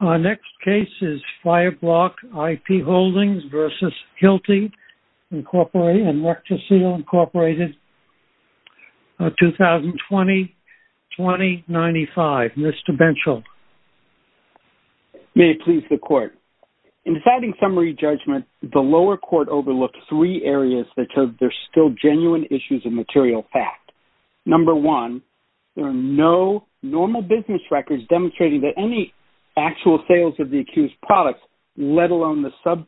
Our next case is Fireblok IP Holdings v. Hilti, Inc. and Rectosedal, Inc., 2020-2095. Mr. Benchel. May it please the Court. In deciding summary judgment, the lower court overlooked three areas that showed there are still genuine issues of material fact. Number one, there are no normal business records demonstrating that any actual sales of the accused products, let alone the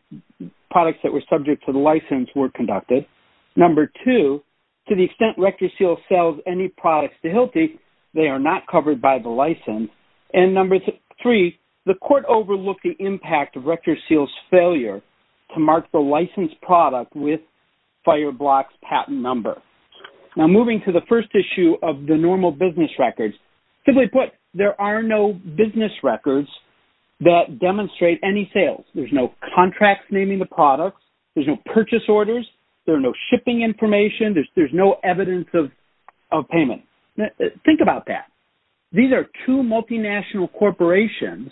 products that were subject to the license, were conducted. Number two, to the extent Rectosedal sells any products to Hilti, they are not covered by the license. And number three, the Court overlooked the impact of Rectosedal's failure to mark the licensed product with Fireblok's patent number. Now, moving to the first issue of the normal business records, simply put, there are no business records that demonstrate any sales. There's no contracts naming the products. There's no purchase orders. There are no shipping information. There's no evidence of payment. Think about that. These are two multinational corporations,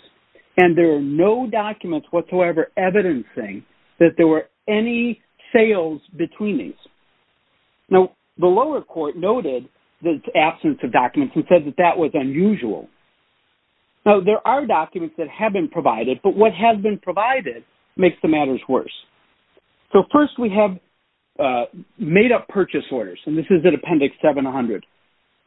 and there are no documents whatsoever evidencing that there were any sales between these. Now, the lower court noted the absence of documents and said that that was unusual. Now, there are documents that have been provided, but what has been provided makes the matters worse. So first, we have made-up purchase orders, and this is in Appendix 700.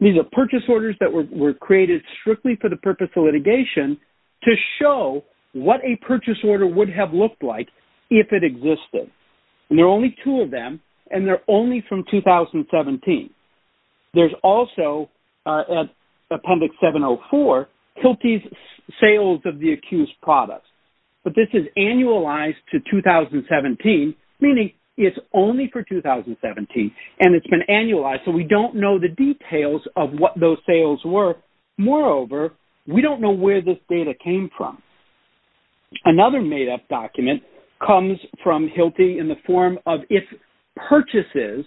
These are purchase orders that were created strictly for the purpose of litigation to show what a purchase order would have looked like if it existed. And there are only two of them, and they're only from 2017. There's also, at Appendix 704, Hilti's sales of the accused products, but this is annualized to 2017, meaning it's only for 2017, and it's been annualized, so we don't know the details of what those sales were. Moreover, we don't know where this data came from. Another made-up document comes from Hilti in the form of if purchases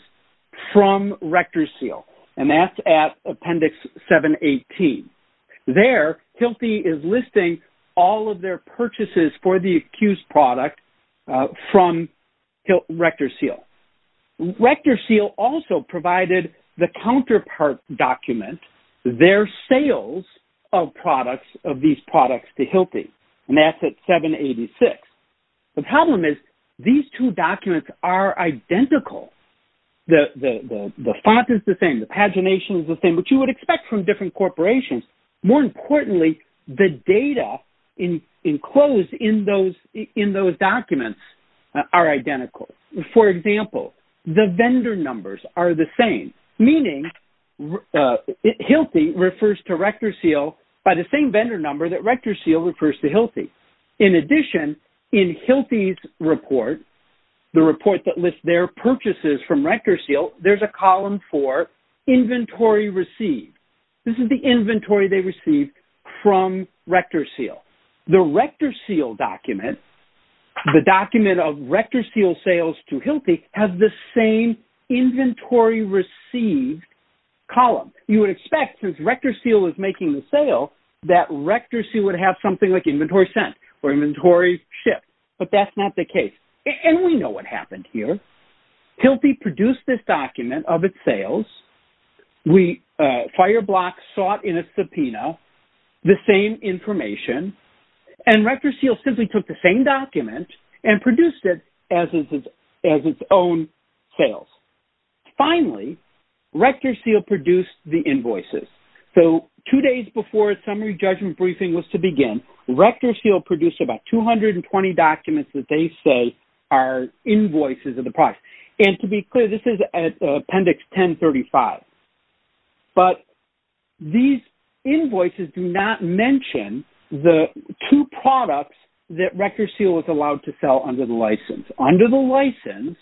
from RectorSeal, and that's at Appendix 718. There, Hilti is listing all of their purchases for the accused product from RectorSeal. RectorSeal also provided the counterpart document, their sales of products, of these products to Hilti, and that's at 786. The problem is these two documents are identical. The font is the same. The pagination is the same, which you would expect from different corporations. More importantly, the data enclosed in those documents are identical. For example, the vendor numbers are the same, meaning Hilti refers to RectorSeal by the same vendor number that RectorSeal refers to Hilti. In addition, in Hilti's report, the report that lists their purchases from RectorSeal, there's a column for Inventory Received. This is the inventory they received from RectorSeal. The RectorSeal document, the document of RectorSeal sales to Hilti has the same Inventory Received column. You would expect, since RectorSeal is making the sale, that RectorSeal would have something like Inventory Sent or Inventory Shipped, but that's not the case. And we know what happened here. Hilti produced this document of its sales. Fireblock sought in a subpoena the same information, and RectorSeal simply took the same document and produced it as its own sales. Finally, RectorSeal produced the invoices. So, two days before its Summary Judgment Briefing was to begin, RectorSeal produced about 220 documents that they say are invoices of the product. And to be clear, this is at Appendix 1035. But these invoices do not mention the two products that RectorSeal was allowed to sell under the license. RectorSeal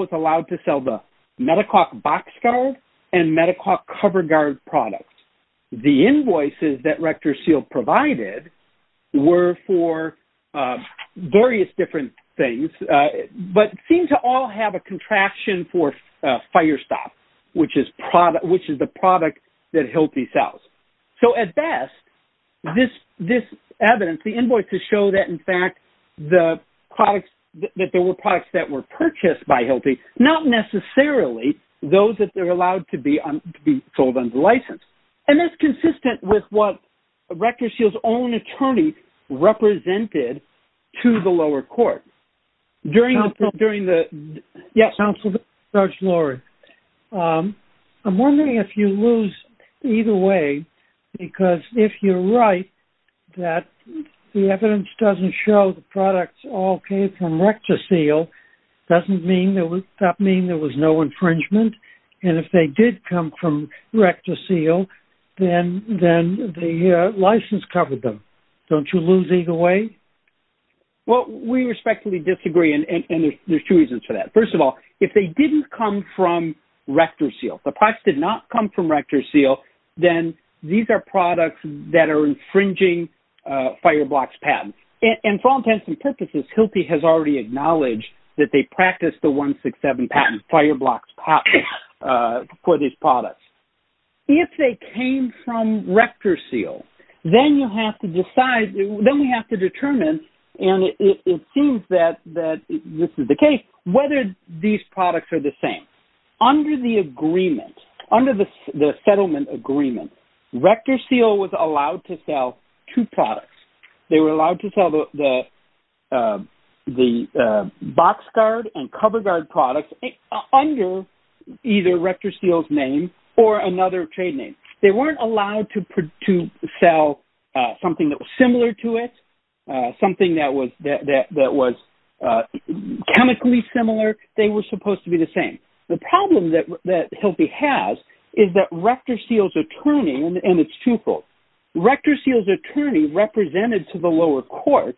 was allowed to sell the MediCalc BoxGuard and MediCalc CoverGuard products. The invoices that RectorSeal provided were for various different things, but seem to all have a contraction for FireStop, which is the product that Hilti sells. So, at best, this evidence, the invoices show that, in fact, that there were products that were purchased by Hilti, not necessarily those that they're allowed to be sold under the license. And that's consistent with what RectorSeal's own attorney represented to the lower court. During the... Judge Lori, I'm wondering if you lose either way, because if you're right, that the evidence doesn't show the products all came from RectorSeal, doesn't mean there was... that mean there was no infringement? And if they did come from RectorSeal, then the license covered them. Don't you lose either way? Well, we respectfully disagree, and there's two reasons for that. First of all, if they didn't come from RectorSeal, the products did not come from RectorSeal, then these are products that are infringing FireBlox patents. And for all intents and purposes, Hilti has already acknowledged that they practiced the 167 patent FireBlox for these products. If they came from RectorSeal, then you have to decide, then we have to determine, and it seems that this is the case, whether these products are the same. Under the agreement, under the settlement agreement, RectorSeal was allowed to sell two products. They were allowed to sell the box guard and cover guard products under either RectorSeal's name or another trade name. They weren't allowed to sell something that was similar to it, something that was chemically similar. They were supposed to be the same. The problem that Hilti has is that RectorSeal's attorney, and it's truthful, RectorSeal's attorney represented to the lower court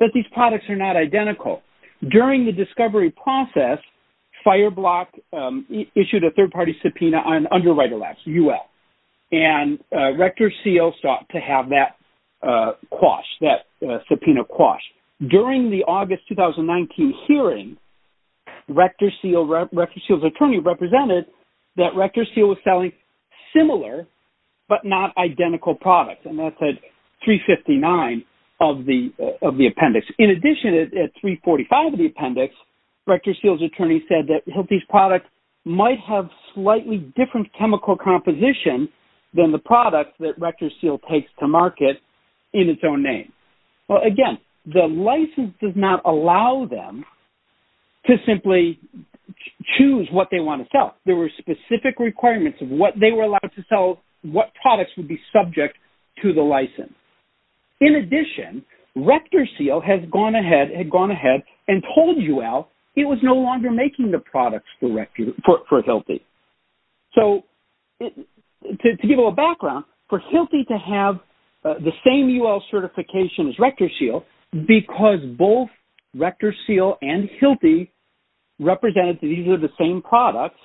that these products are not identical. During the discovery process, FireBlox issued a third-party subpoena under Rite-O-Lax, UL, and RectorSeal sought to have that quash, that subpoena quash. During the August 2019 hearing, RectorSeal's attorney represented that RectorSeal was selling similar but not identical products, and that's at 359 of the appendix. In addition, at 345 of the appendix, RectorSeal's attorney said that Hilti's product might have slightly different chemical composition than the product that RectorSeal takes to market in its own name. Well, again, the license does not allow them to simply choose what they want to sell. There were specific requirements of what to sell, what products would be subject to the license. In addition, RectorSeal had gone ahead and told UL it was no longer making the products for Hilti. So, to give a little background, for Hilti to have the same UL certification as RectorSeal because both RectorSeal and Hilti represented that these were the same products,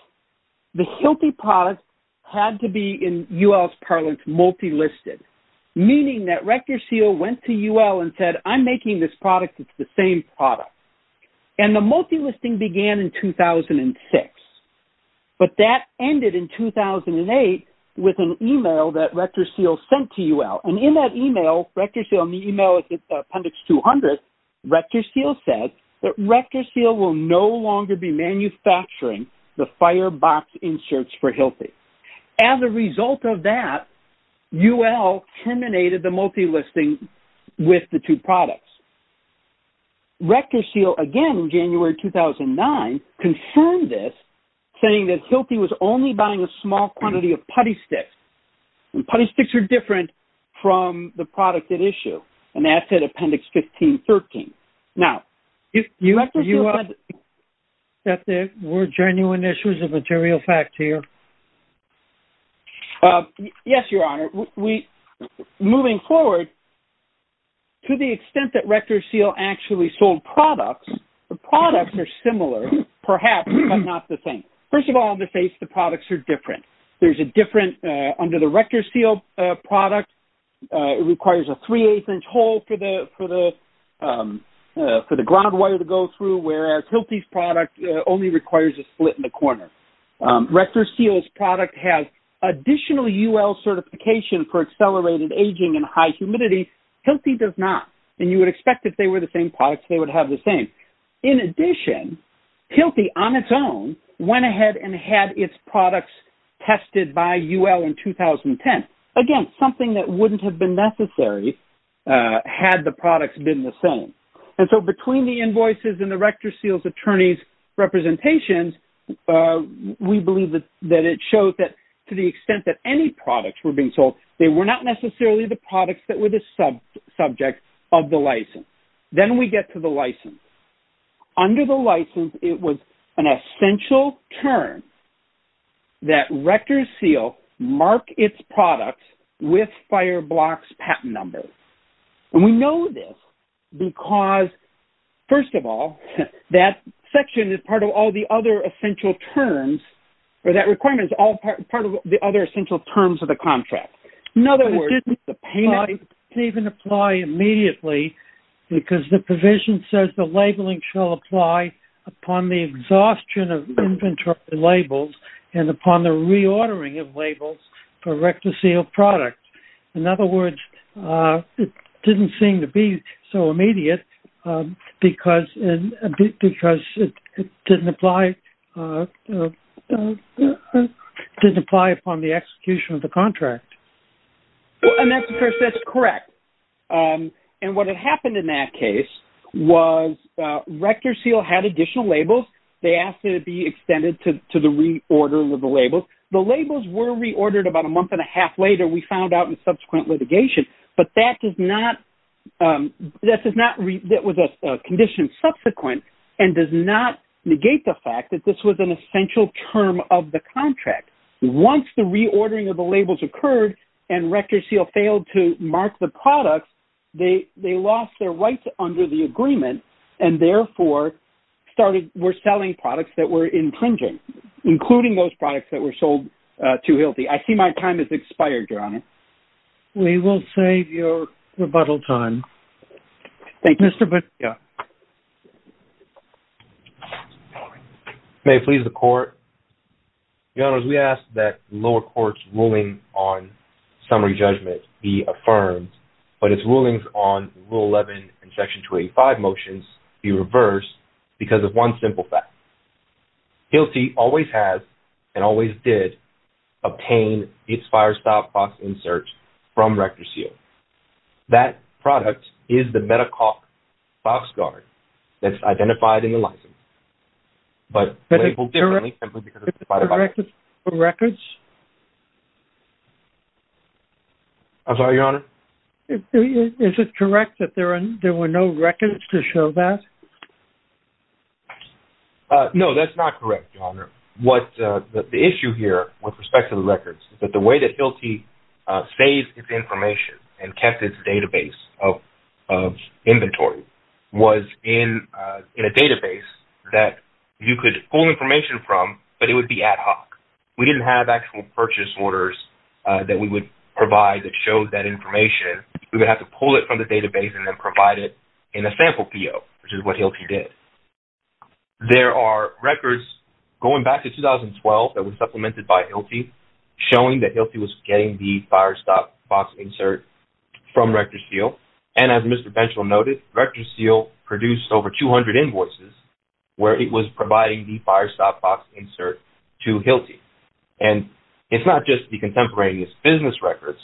the Hilti product had to be, in UL's parlance, multi-listed, meaning that RectorSeal went to UL and said, I'm making this product. It's the same product. And the multi-listing began in 2006, but that ended in 2008 with an email that RectorSeal sent to UL. And in that email, RectorSeal, in the email appendix 200, RectorSeal said that they would no longer be manufacturing the firebox inserts for Hilti. As a result of that, UL terminated the multi-listing with the two products. RectorSeal, again, in January 2009, confirmed this, saying that Hilti was only buying a small quantity of putty sticks. And putty sticks are different from the product at issue. And that's in appendix 1513. Now, do you think that there were genuine issues of material fact here? Yes, Your Honor. Moving forward, to the extent that RectorSeal actually sold products, the products are similar, perhaps, but not the same. First of all, on the face, the products are different. There's a different, under the RectorSeal product, it requires a three-eighth-inch hole for the ground wire to go through, whereas Hilti's product only requires a split in the corner. RectorSeal's product has additional UL certification for accelerated aging and high humidity. Hilti does not. And you would expect if they were the same products, they would have the same. In addition, Hilti, on its own, went ahead and had its products tested by UL in 2010. Again, something that wouldn't have been necessary, had the products been the same. And so, between the invoices and the RectorSeal's attorney's representations, we believe that it shows that to the extent that any products were being sold, they were not necessarily the products that were the subject of the license. Then we get to the license. Under the license, it was an essential term that RectorSeal mark its products with Fireblocks patent number. And we know this because, first of all, that section is part of all the other essential terms, or that requirement is all part of the other essential terms of the contract. In other words, it didn't even apply immediately because the provision says the labeling shall apply upon the exhaustion of inventory labels and upon the reordering of labels for RectorSeal products. In other words, it didn't seem to be so immediate because it didn't apply upon the execution of the contract. And that's correct. And what had happened in that case was RectorSeal had additional labels. They asked it to be extended to the reorder of the labels. The labels were reordered about a subsequent litigation, but that was a condition subsequent and does not negate the fact that this was an essential term of the contract. Once the reordering of the labels occurred and RectorSeal failed to mark the products, they lost their rights under the agreement and therefore were selling products that were infringing, including those products that were We will save your rebuttal time. Thank you. Mr. Bacchia. May it please the Court. Your Honors, we ask that the lower court's ruling on summary judgment be affirmed, but its rulings on Rule 11 and Section 285 motions be reversed because of one simple fact. Healty always has and always did obtain its firestop box inserts from RectorSeal. That product is the Medi-Coq box guard that's identified in the license, but labeled differently simply because it's identified by the box. Records? I'm sorry, Your Honor. Is it correct that there were no records to show that? No, that's not correct, Your Honor. The issue here with respect to the records is that the way that Healty saved its information and kept its database of inventory was in a database that you could pull information from, but it would be ad hoc. We didn't have actual purchase orders that we would provide that showed that information. We would have to pull it from the database and then provide it in a sample PO, which is what Healty did. There are records going back to 2012 that was supplemented by Healty showing that Healty was getting the firestop box insert from RectorSeal, and as Mr. Benchel noted, RectorSeal produced over 200 invoices where it was providing the firestop box insert to Healty. It's not just the contemporaneous business records.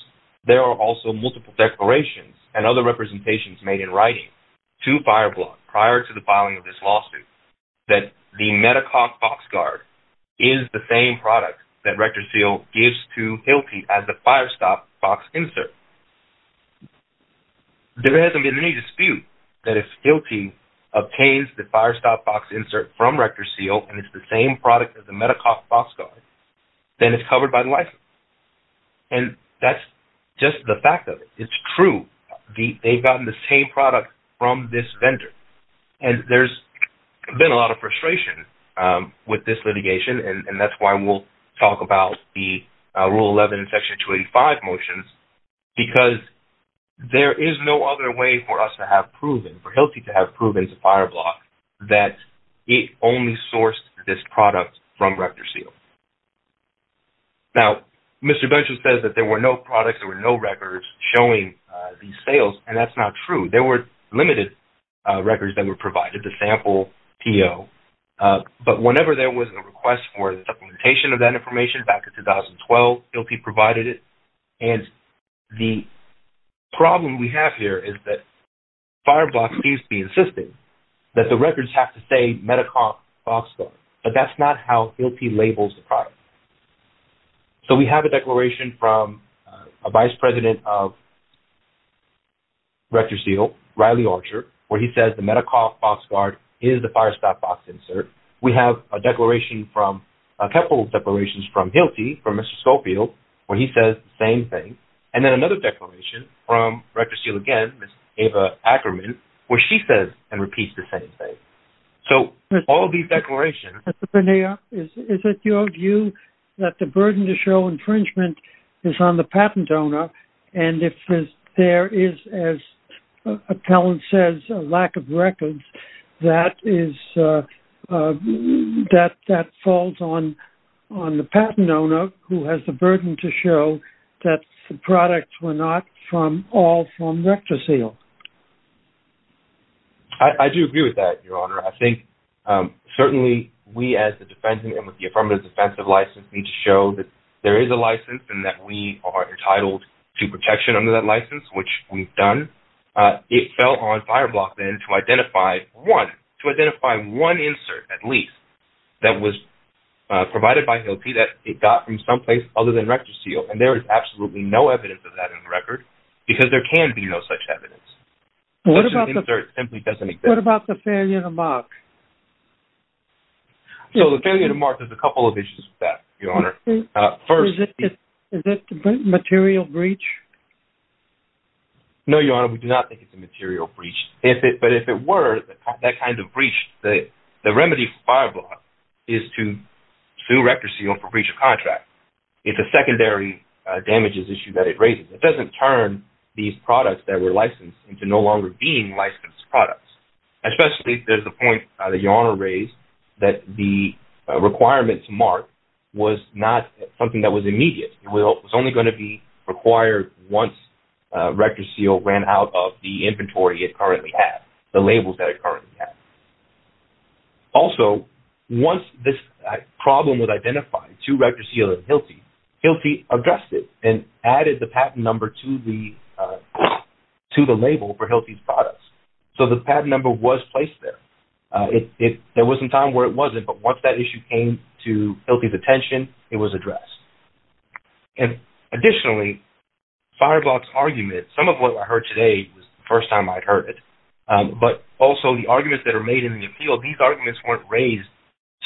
There are also multiple declarations and other representations made in writing to FireBlock prior to the filing of this lawsuit that the MetaCoff box guard is the same product that RectorSeal gives to Healty as the firestop box insert. There hasn't been any dispute that if Healty obtains the firestop box insert from RectorSeal and it's the same product as the MetaCoff box guard, then it's covered by the license. And that's just the fact of it. It's true. They've gotten the same product from this vendor. And there's been a lot of frustration with this litigation, and that's why we'll talk about the Rule 11, Section 285 motions, because there is no other way for us to have proven, for Healty to have proven to FireBlock that it only sourced this product from RectorSeal. Now, Mr. Benjamin says that there were no products, there were no records showing these sales, and that's not true. There were limited records that were provided to sample PO, but whenever there was a request for the supplementation of that information back in 2012, Healty provided it. And the problem we have here is that FireBlock seems to be insisting that the records have to say MetaCoff box guard, but that's not how Healty labels the product. So we have a declaration from a vice president of RectorSeal, Riley Archer, where he says the MetaCoff box guard is the firestop box insert. We have a declaration from, a couple declarations from Healty, from Mr. Schofield, where he says the same thing. And then another declaration from RectorSeal again, Ms. Ava Ackerman, where she says and repeats the same thing. So all of these declarations... Mr. Benioff, is it your view that the burden to show infringement is on the patent owner, and if there is, as a talent says, a lack of records, that falls on the patent owner who has the burden to show that the products were not all from RectorSeal? I do agree with that, Your Honor. I think certainly we as the defense and with the affirmative defensive license need to show that there is a license and that we are entitled to protection under that license, which we've done. It fell on FireBlock then to identify one, to identify one that it got from someplace other than RectorSeal, and there is absolutely no evidence of that in the record, because there can be no such evidence. What about the failure to mark? So the failure to mark, there's a couple of issues with that, Your Honor. First... Is it a material breach? No, Your Honor, we do not think it's a material breach. But if it were, that kind of breach, the remedy for FireBlock is to sue RectorSeal for breach of contract. It's a secondary damages issue that it raises. It doesn't turn these products that were licensed into no longer being licensed products, especially there's the point that Your Honor raised that the requirements mark was not something that was immediate. It was only required once RectorSeal ran out of the inventory it currently had, the labels that it currently had. Also, once this problem was identified to RectorSeal and HILTI, HILTI addressed it and added the patent number to the label for HILTI's products. So the patent number was placed there. There was some time where it wasn't, but once that issue came to HILTI's attention, it was addressed. Additionally, FireBlock's argument, some of what I heard today was the first time I'd heard it, but also the arguments that are made in the appeal, these arguments weren't raised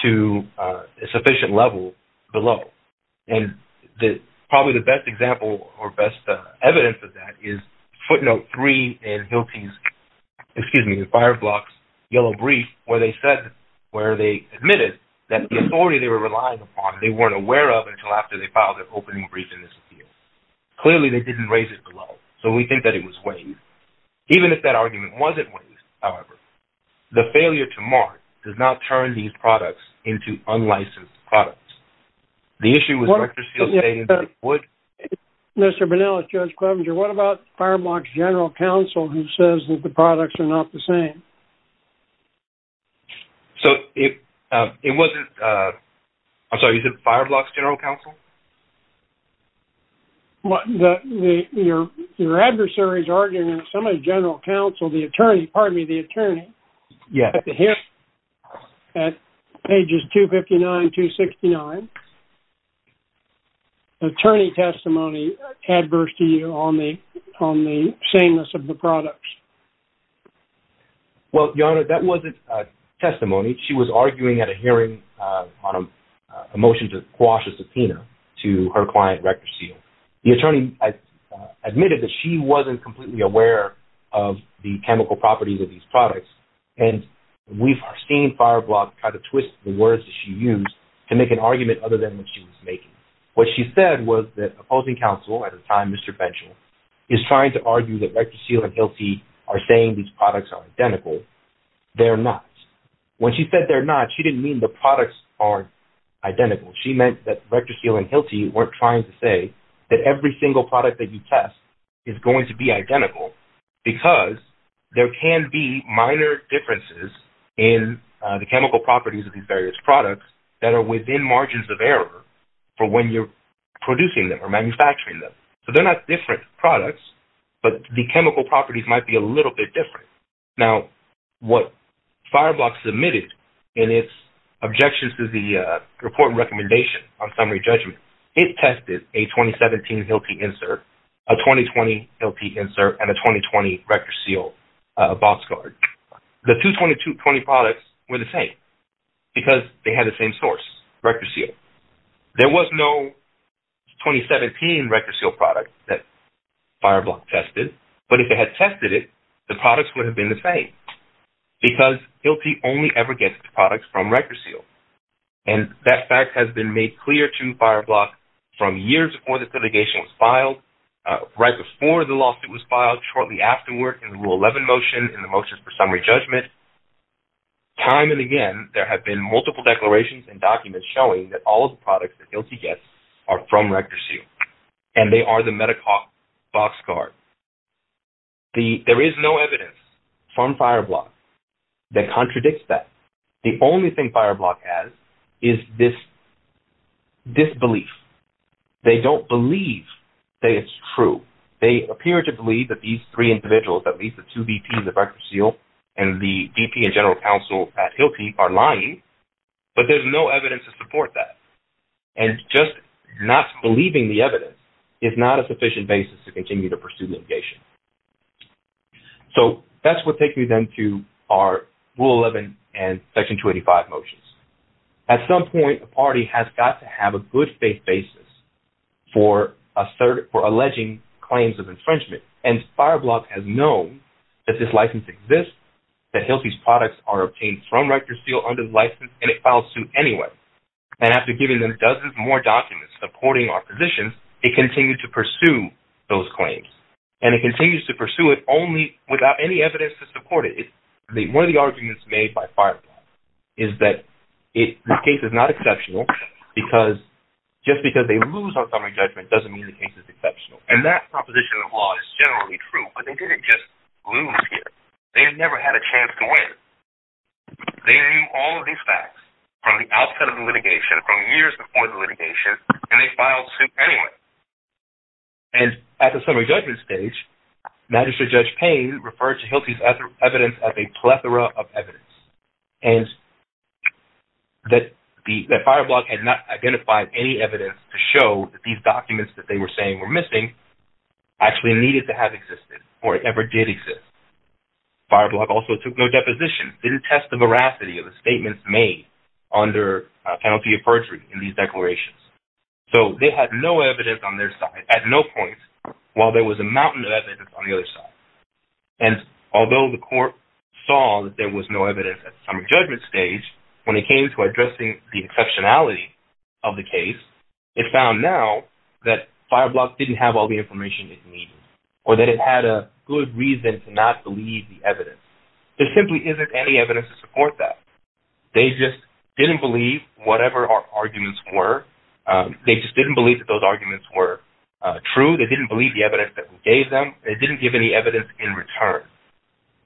to a sufficient level below. Probably the best example or best evidence of that is footnote three in HILTI's, excuse me, FireBlock's yellow brief where they said, where they admitted that the authority they were relying upon, they weren't aware of until after they filed their opening brief in this appeal. Clearly they didn't raise it below. So we think that it was waived. Even if that argument wasn't waived, however, the failure to mark does not turn these products into unlicensed products. The issue with RectorSeal saying that it would... Mr. Bernal, it's Judge Clevenger. What about FireBlock's general counsel who says that products are not the same? So it wasn't, I'm sorry, you said FireBlock's general counsel? Your adversary is arguing that somebody's general counsel, the attorney, pardon me, the attorney at the hearing at pages 259, 269, attorney testimony adverse to you on the sameness of the products. Well, Your Honor, that wasn't testimony. She was arguing at a hearing on a motion to quash a subpoena to her client RectorSeal. The attorney admitted that she wasn't completely aware of the chemical properties of these products. And we've seen FireBlock kind of twist the words that she used to make an argument other than what she was making. What she said was that opposing counsel at the time, Mr. Benchel, is trying to argue that RectorSeal and HILTI are saying these products are identical. They're not. When she said they're not, she didn't mean the products are identical. She meant that RectorSeal and HILTI weren't trying to say that every single product that you test is going to be identical because there can be minor differences in the chemical properties of these various products that are within margins of error for when you're producing them or so they're not different products, but the chemical properties might be a little bit different. Now, what FireBlock submitted in its objections to the report recommendation on summary judgment, it tested a 2017 HILTI insert, a 2020 HILTI insert, and a 2020 RectorSeal box card. The two 2020 products were the same because they had the same source, RectorSeal. There was no 2017 RectorSeal product that FireBlock tested, but if it had tested it, the products would have been the same because HILTI only ever gets the products from RectorSeal, and that fact has been made clear to FireBlock from years before the litigation was filed, right before the lawsuit was filed, shortly afterward in the Rule 11 motion, in the motions for summary judgment. Time and again, there have been multiple declarations and documents showing that all the products that HILTI gets are from RectorSeal, and they are the MediCorp box card. There is no evidence from FireBlock that contradicts that. The only thing FireBlock has is this disbelief. They don't believe that it's true. They appear to believe that these three individuals, at least the two VPs of RectorSeal and the VP and general counsel at HILTI are lying, but there's no evidence to support that, and just not believing the evidence is not a sufficient basis to continue to pursue litigation. So, that's what takes me then to our Rule 11 and Section 285 motions. At some point, a party has got to have a good faith basis for alleging claims of infringement, and FireBlock has known that this license exists, that HILTI's obtained from RectorSeal under the license, and it files suit anyway. And after giving them dozens more documents supporting our position, they continue to pursue those claims. And it continues to pursue it only without any evidence to support it. One of the arguments made by FireBlock is that this case is not exceptional, because just because they lose on summary judgment doesn't mean the case is exceptional. And that proposition of law is generally true, but they didn't just lose here. They never had a chance to win. They knew all of these facts from the outset of the litigation, from years before the litigation, and they filed suit anyway. And at the summary judgment stage, Magistrate Judge Payne referred to HILTI's evidence as a plethora of evidence, and that FireBlock had not identified any evidence to show that these or it ever did exist. FireBlock also took no deposition, didn't test the veracity of the statements made under a penalty of perjury in these declarations. So, they had no evidence on their side at no point while there was a mountain of evidence on the other side. And although the court saw that there was no evidence at summary judgment stage, when it came to addressing the exceptionality of the case, it found now that FireBlock didn't have all the information it needed or that it had a good reason to not believe the evidence. There simply isn't any evidence to support that. They just didn't believe whatever our arguments were. They just didn't believe that those arguments were true. They didn't believe the evidence that we gave them. They didn't give any evidence in return.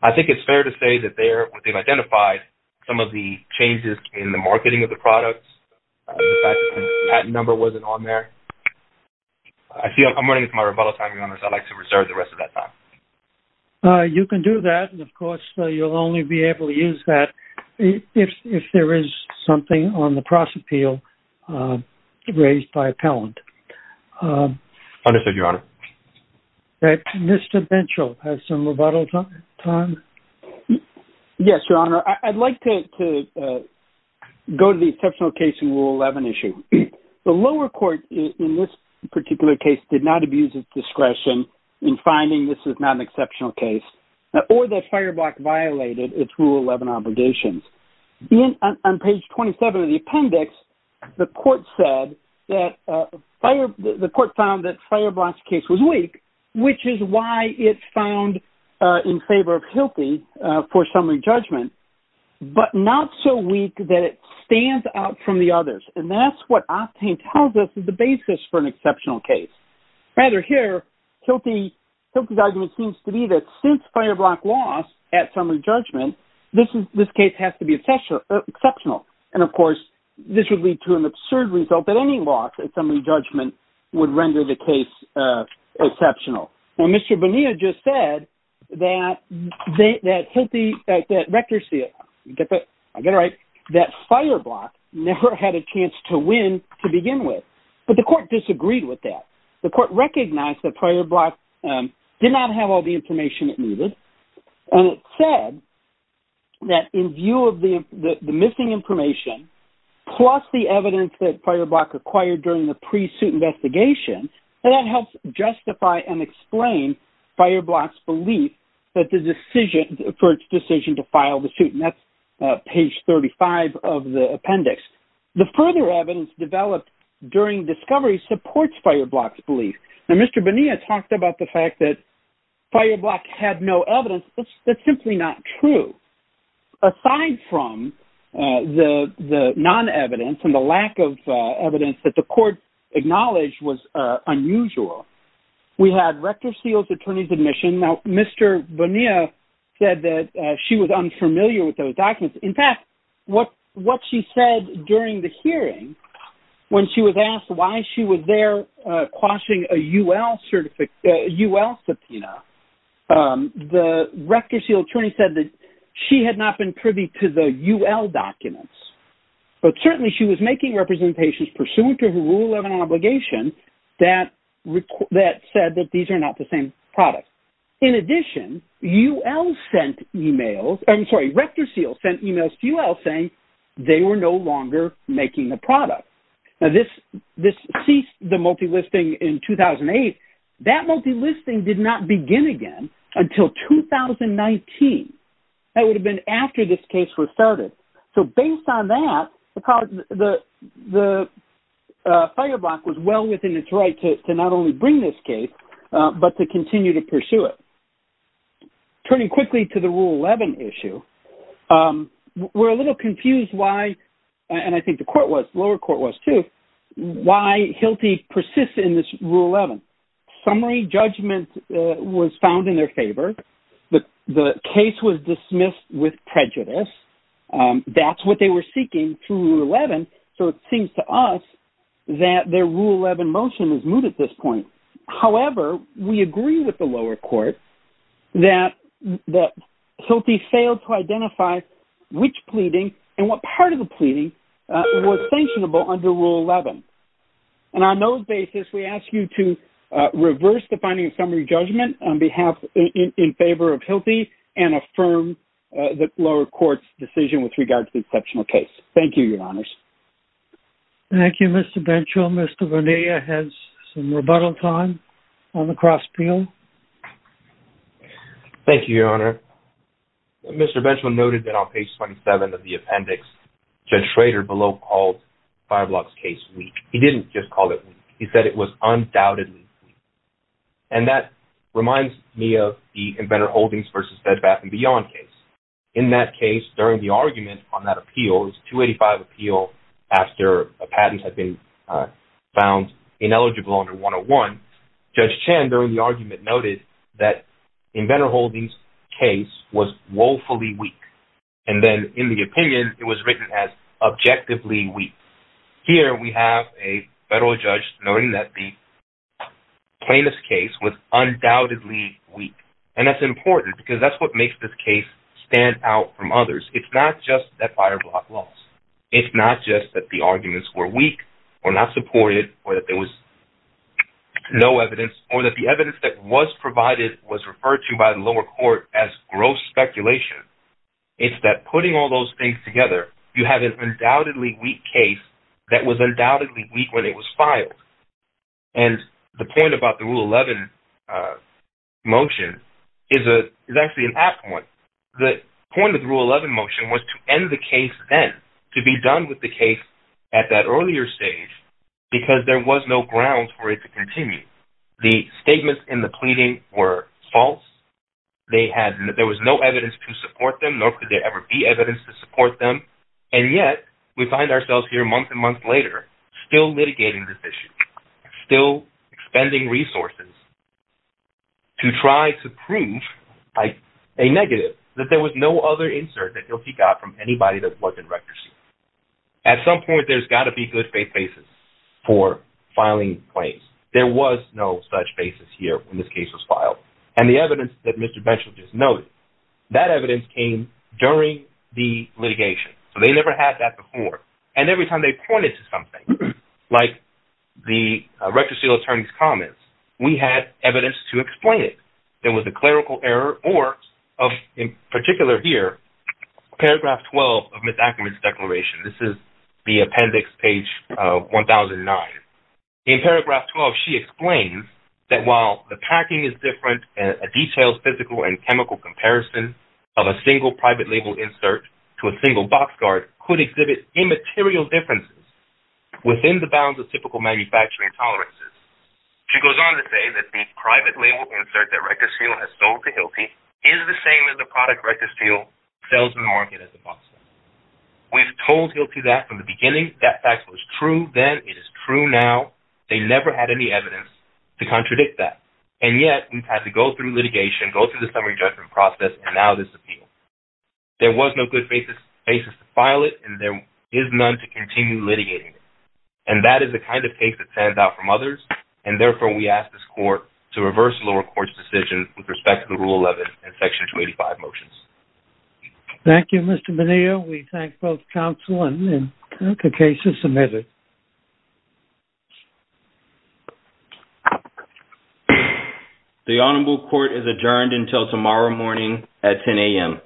I think it's fair to say that they've identified some of the changes in the marketing of the products. The patent number wasn't on there. I'm running out of my rebuttal time, Your Honor, so I'd like to reserve the rest of that time. You can do that. Of course, you'll only be able to use that if there is something on the cross-appeal raised by appellant. Understood, Your Honor. Mr. Bentschel has some rebuttal time. Yes, Your Honor. I'd like to go to the exceptional case in Rule 11 issue. The lower court in this particular case did not abuse its discretion in finding this is not an exceptional case or that FireBlock violated its Rule 11 obligations. On page 27 of the appendix, the court found that FireBlock's case was weak, which is why it's found in favor of HILTI for summary judgment, but not so weak that it the others. That's what Optane tells us is the basis for an exceptional case. Rather here, HILTI's argument seems to be that since FireBlock lost at summary judgment, this case has to be exceptional. Of course, this would lead to an absurd result that any loss at summary judgment would render the case exceptional. Now, Mr. Bonilla just said that HILTI, that FireBlock never had a chance to win to begin with, but the court disagreed with that. The court recognized that FireBlock did not have all the information it needed, and it said that in view of the missing information, plus the evidence that FireBlock acquired during the pre-suit investigation, and that helps justify and explain FireBlock's belief that the decision for its decision to of the appendix. The further evidence developed during discovery supports FireBlock's belief. Now, Mr. Bonilla talked about the fact that FireBlock had no evidence. That's simply not true. Aside from the non-evidence and the lack of evidence that the court acknowledged was unusual, we had Rector Seals' attorney's admission. Now, Mr. Bonilla said that she was unfamiliar with those what she said during the hearing when she was asked why she was there quashing a UL subpoena. The Rector Seal attorney said that she had not been privy to the UL documents, but certainly she was making representations pursuant to the rule of an obligation that said that these are not the they were no longer making the product. Now, this ceased the multilisting in 2008. That multilisting did not begin again until 2019. That would have been after this case was started. So, based on that, the FireBlock was well within its right to not only bring this case, but to continue to pursue it. Turning quickly to the Rule 11 issue, we're a little confused why, and I think the lower court was too, why Hilty persists in this Rule 11. Summary judgment was found in their favor. The case was dismissed with prejudice. That's what they were seeking through Rule 11. So, it seems to us that their Rule 11 motion is moot at this point. However, we agree with the lower court that Hilty failed to identify which pleading and what part of the pleading was sanctionable under Rule 11. And on those basis, we ask you to reverse the finding of summary judgment on behalf in favor of Hilty and affirm the lower court's decision with regard to the exceptional case. Thank you, Your Honors. Thank you, Mr. Benchel. Mr. Vernea has some rebuttal time on the cross-appeal. Thank you, Your Honor. Mr. Benchel noted that on page 27 of the appendix, Judge Schrader below called FireBlock's case weak. He didn't just call it weak. He said it was undoubtedly weak. And that reminds me of the Inventor Holdings v. Bed Bath & Beyond case. In that case, during the argument on that appeal, it was a 285 appeal after a patent had been found ineligible under 101, Judge Chan during the argument noted that Inventor Holdings' case was woefully weak. And then in the opinion, it was written as objectively weak. Here, we have a federal judge noting that the plaintiff's case was undoubtedly weak. And that's important because that's what makes this case stand out from others. It's not just that FireBlock lost. It's not just that the arguments were weak, or not supported, or that there was no evidence, or that the evidence that was provided was referred to by the lower court as gross speculation. It's that putting all those things together, you have an undoubtedly weak case that was undoubtedly weak when it was filed. And the point about the Rule 11 motion is actually an apt one. The point of the Rule 11 motion was to end the case then, to be done with the case at that earlier stage, because there was no ground for it to continue. The statements in the pleading were false. There was no evidence to support them, nor could there ever be evidence to support them. And yet, we find ourselves here, months and months later, still litigating this issue, still expending resources to try to prove a negative, that there was no other insert that ILTI got from anybody that's worked in records. At some point, there's got to be good-faith basis for filing claims. There was no such basis here when this case was filed. And the evidence that never had that before. And every time they pointed to something, like the record seal attorney's comments, we had evidence to explain it. There was a clerical error, or in particular here, paragraph 12 of Ms. Ackerman's declaration. This is the appendix, page 1009. In paragraph 12, she explains that while the packing is different, a detailed physical and chemical comparison of a single private label insert to a single box card could exhibit immaterial differences within the bounds of typical manufacturing tolerances. She goes on to say that the private label insert that RectorSteel has sold to ILTI is the same as the product RectorSteel sells in the market as a box card. We've told ILTI that from the beginning. That fact was true then. It is true now. They never had any evidence to contradict that. And yet, we've had to go through litigation, go through the summary judgment process, and now this appeal. There was no good basis to file it, and there is none to continue litigating it. And that is the kind of case that stands out from others. And therefore, we ask this court to reverse the lower court's decision with respect to the Rule 11 and Section 285 motions. Thank you, Mr. Menillo. We thank both counsel and the case is submitted. The Honorable Court is adjourned until tomorrow morning at 10 a.m.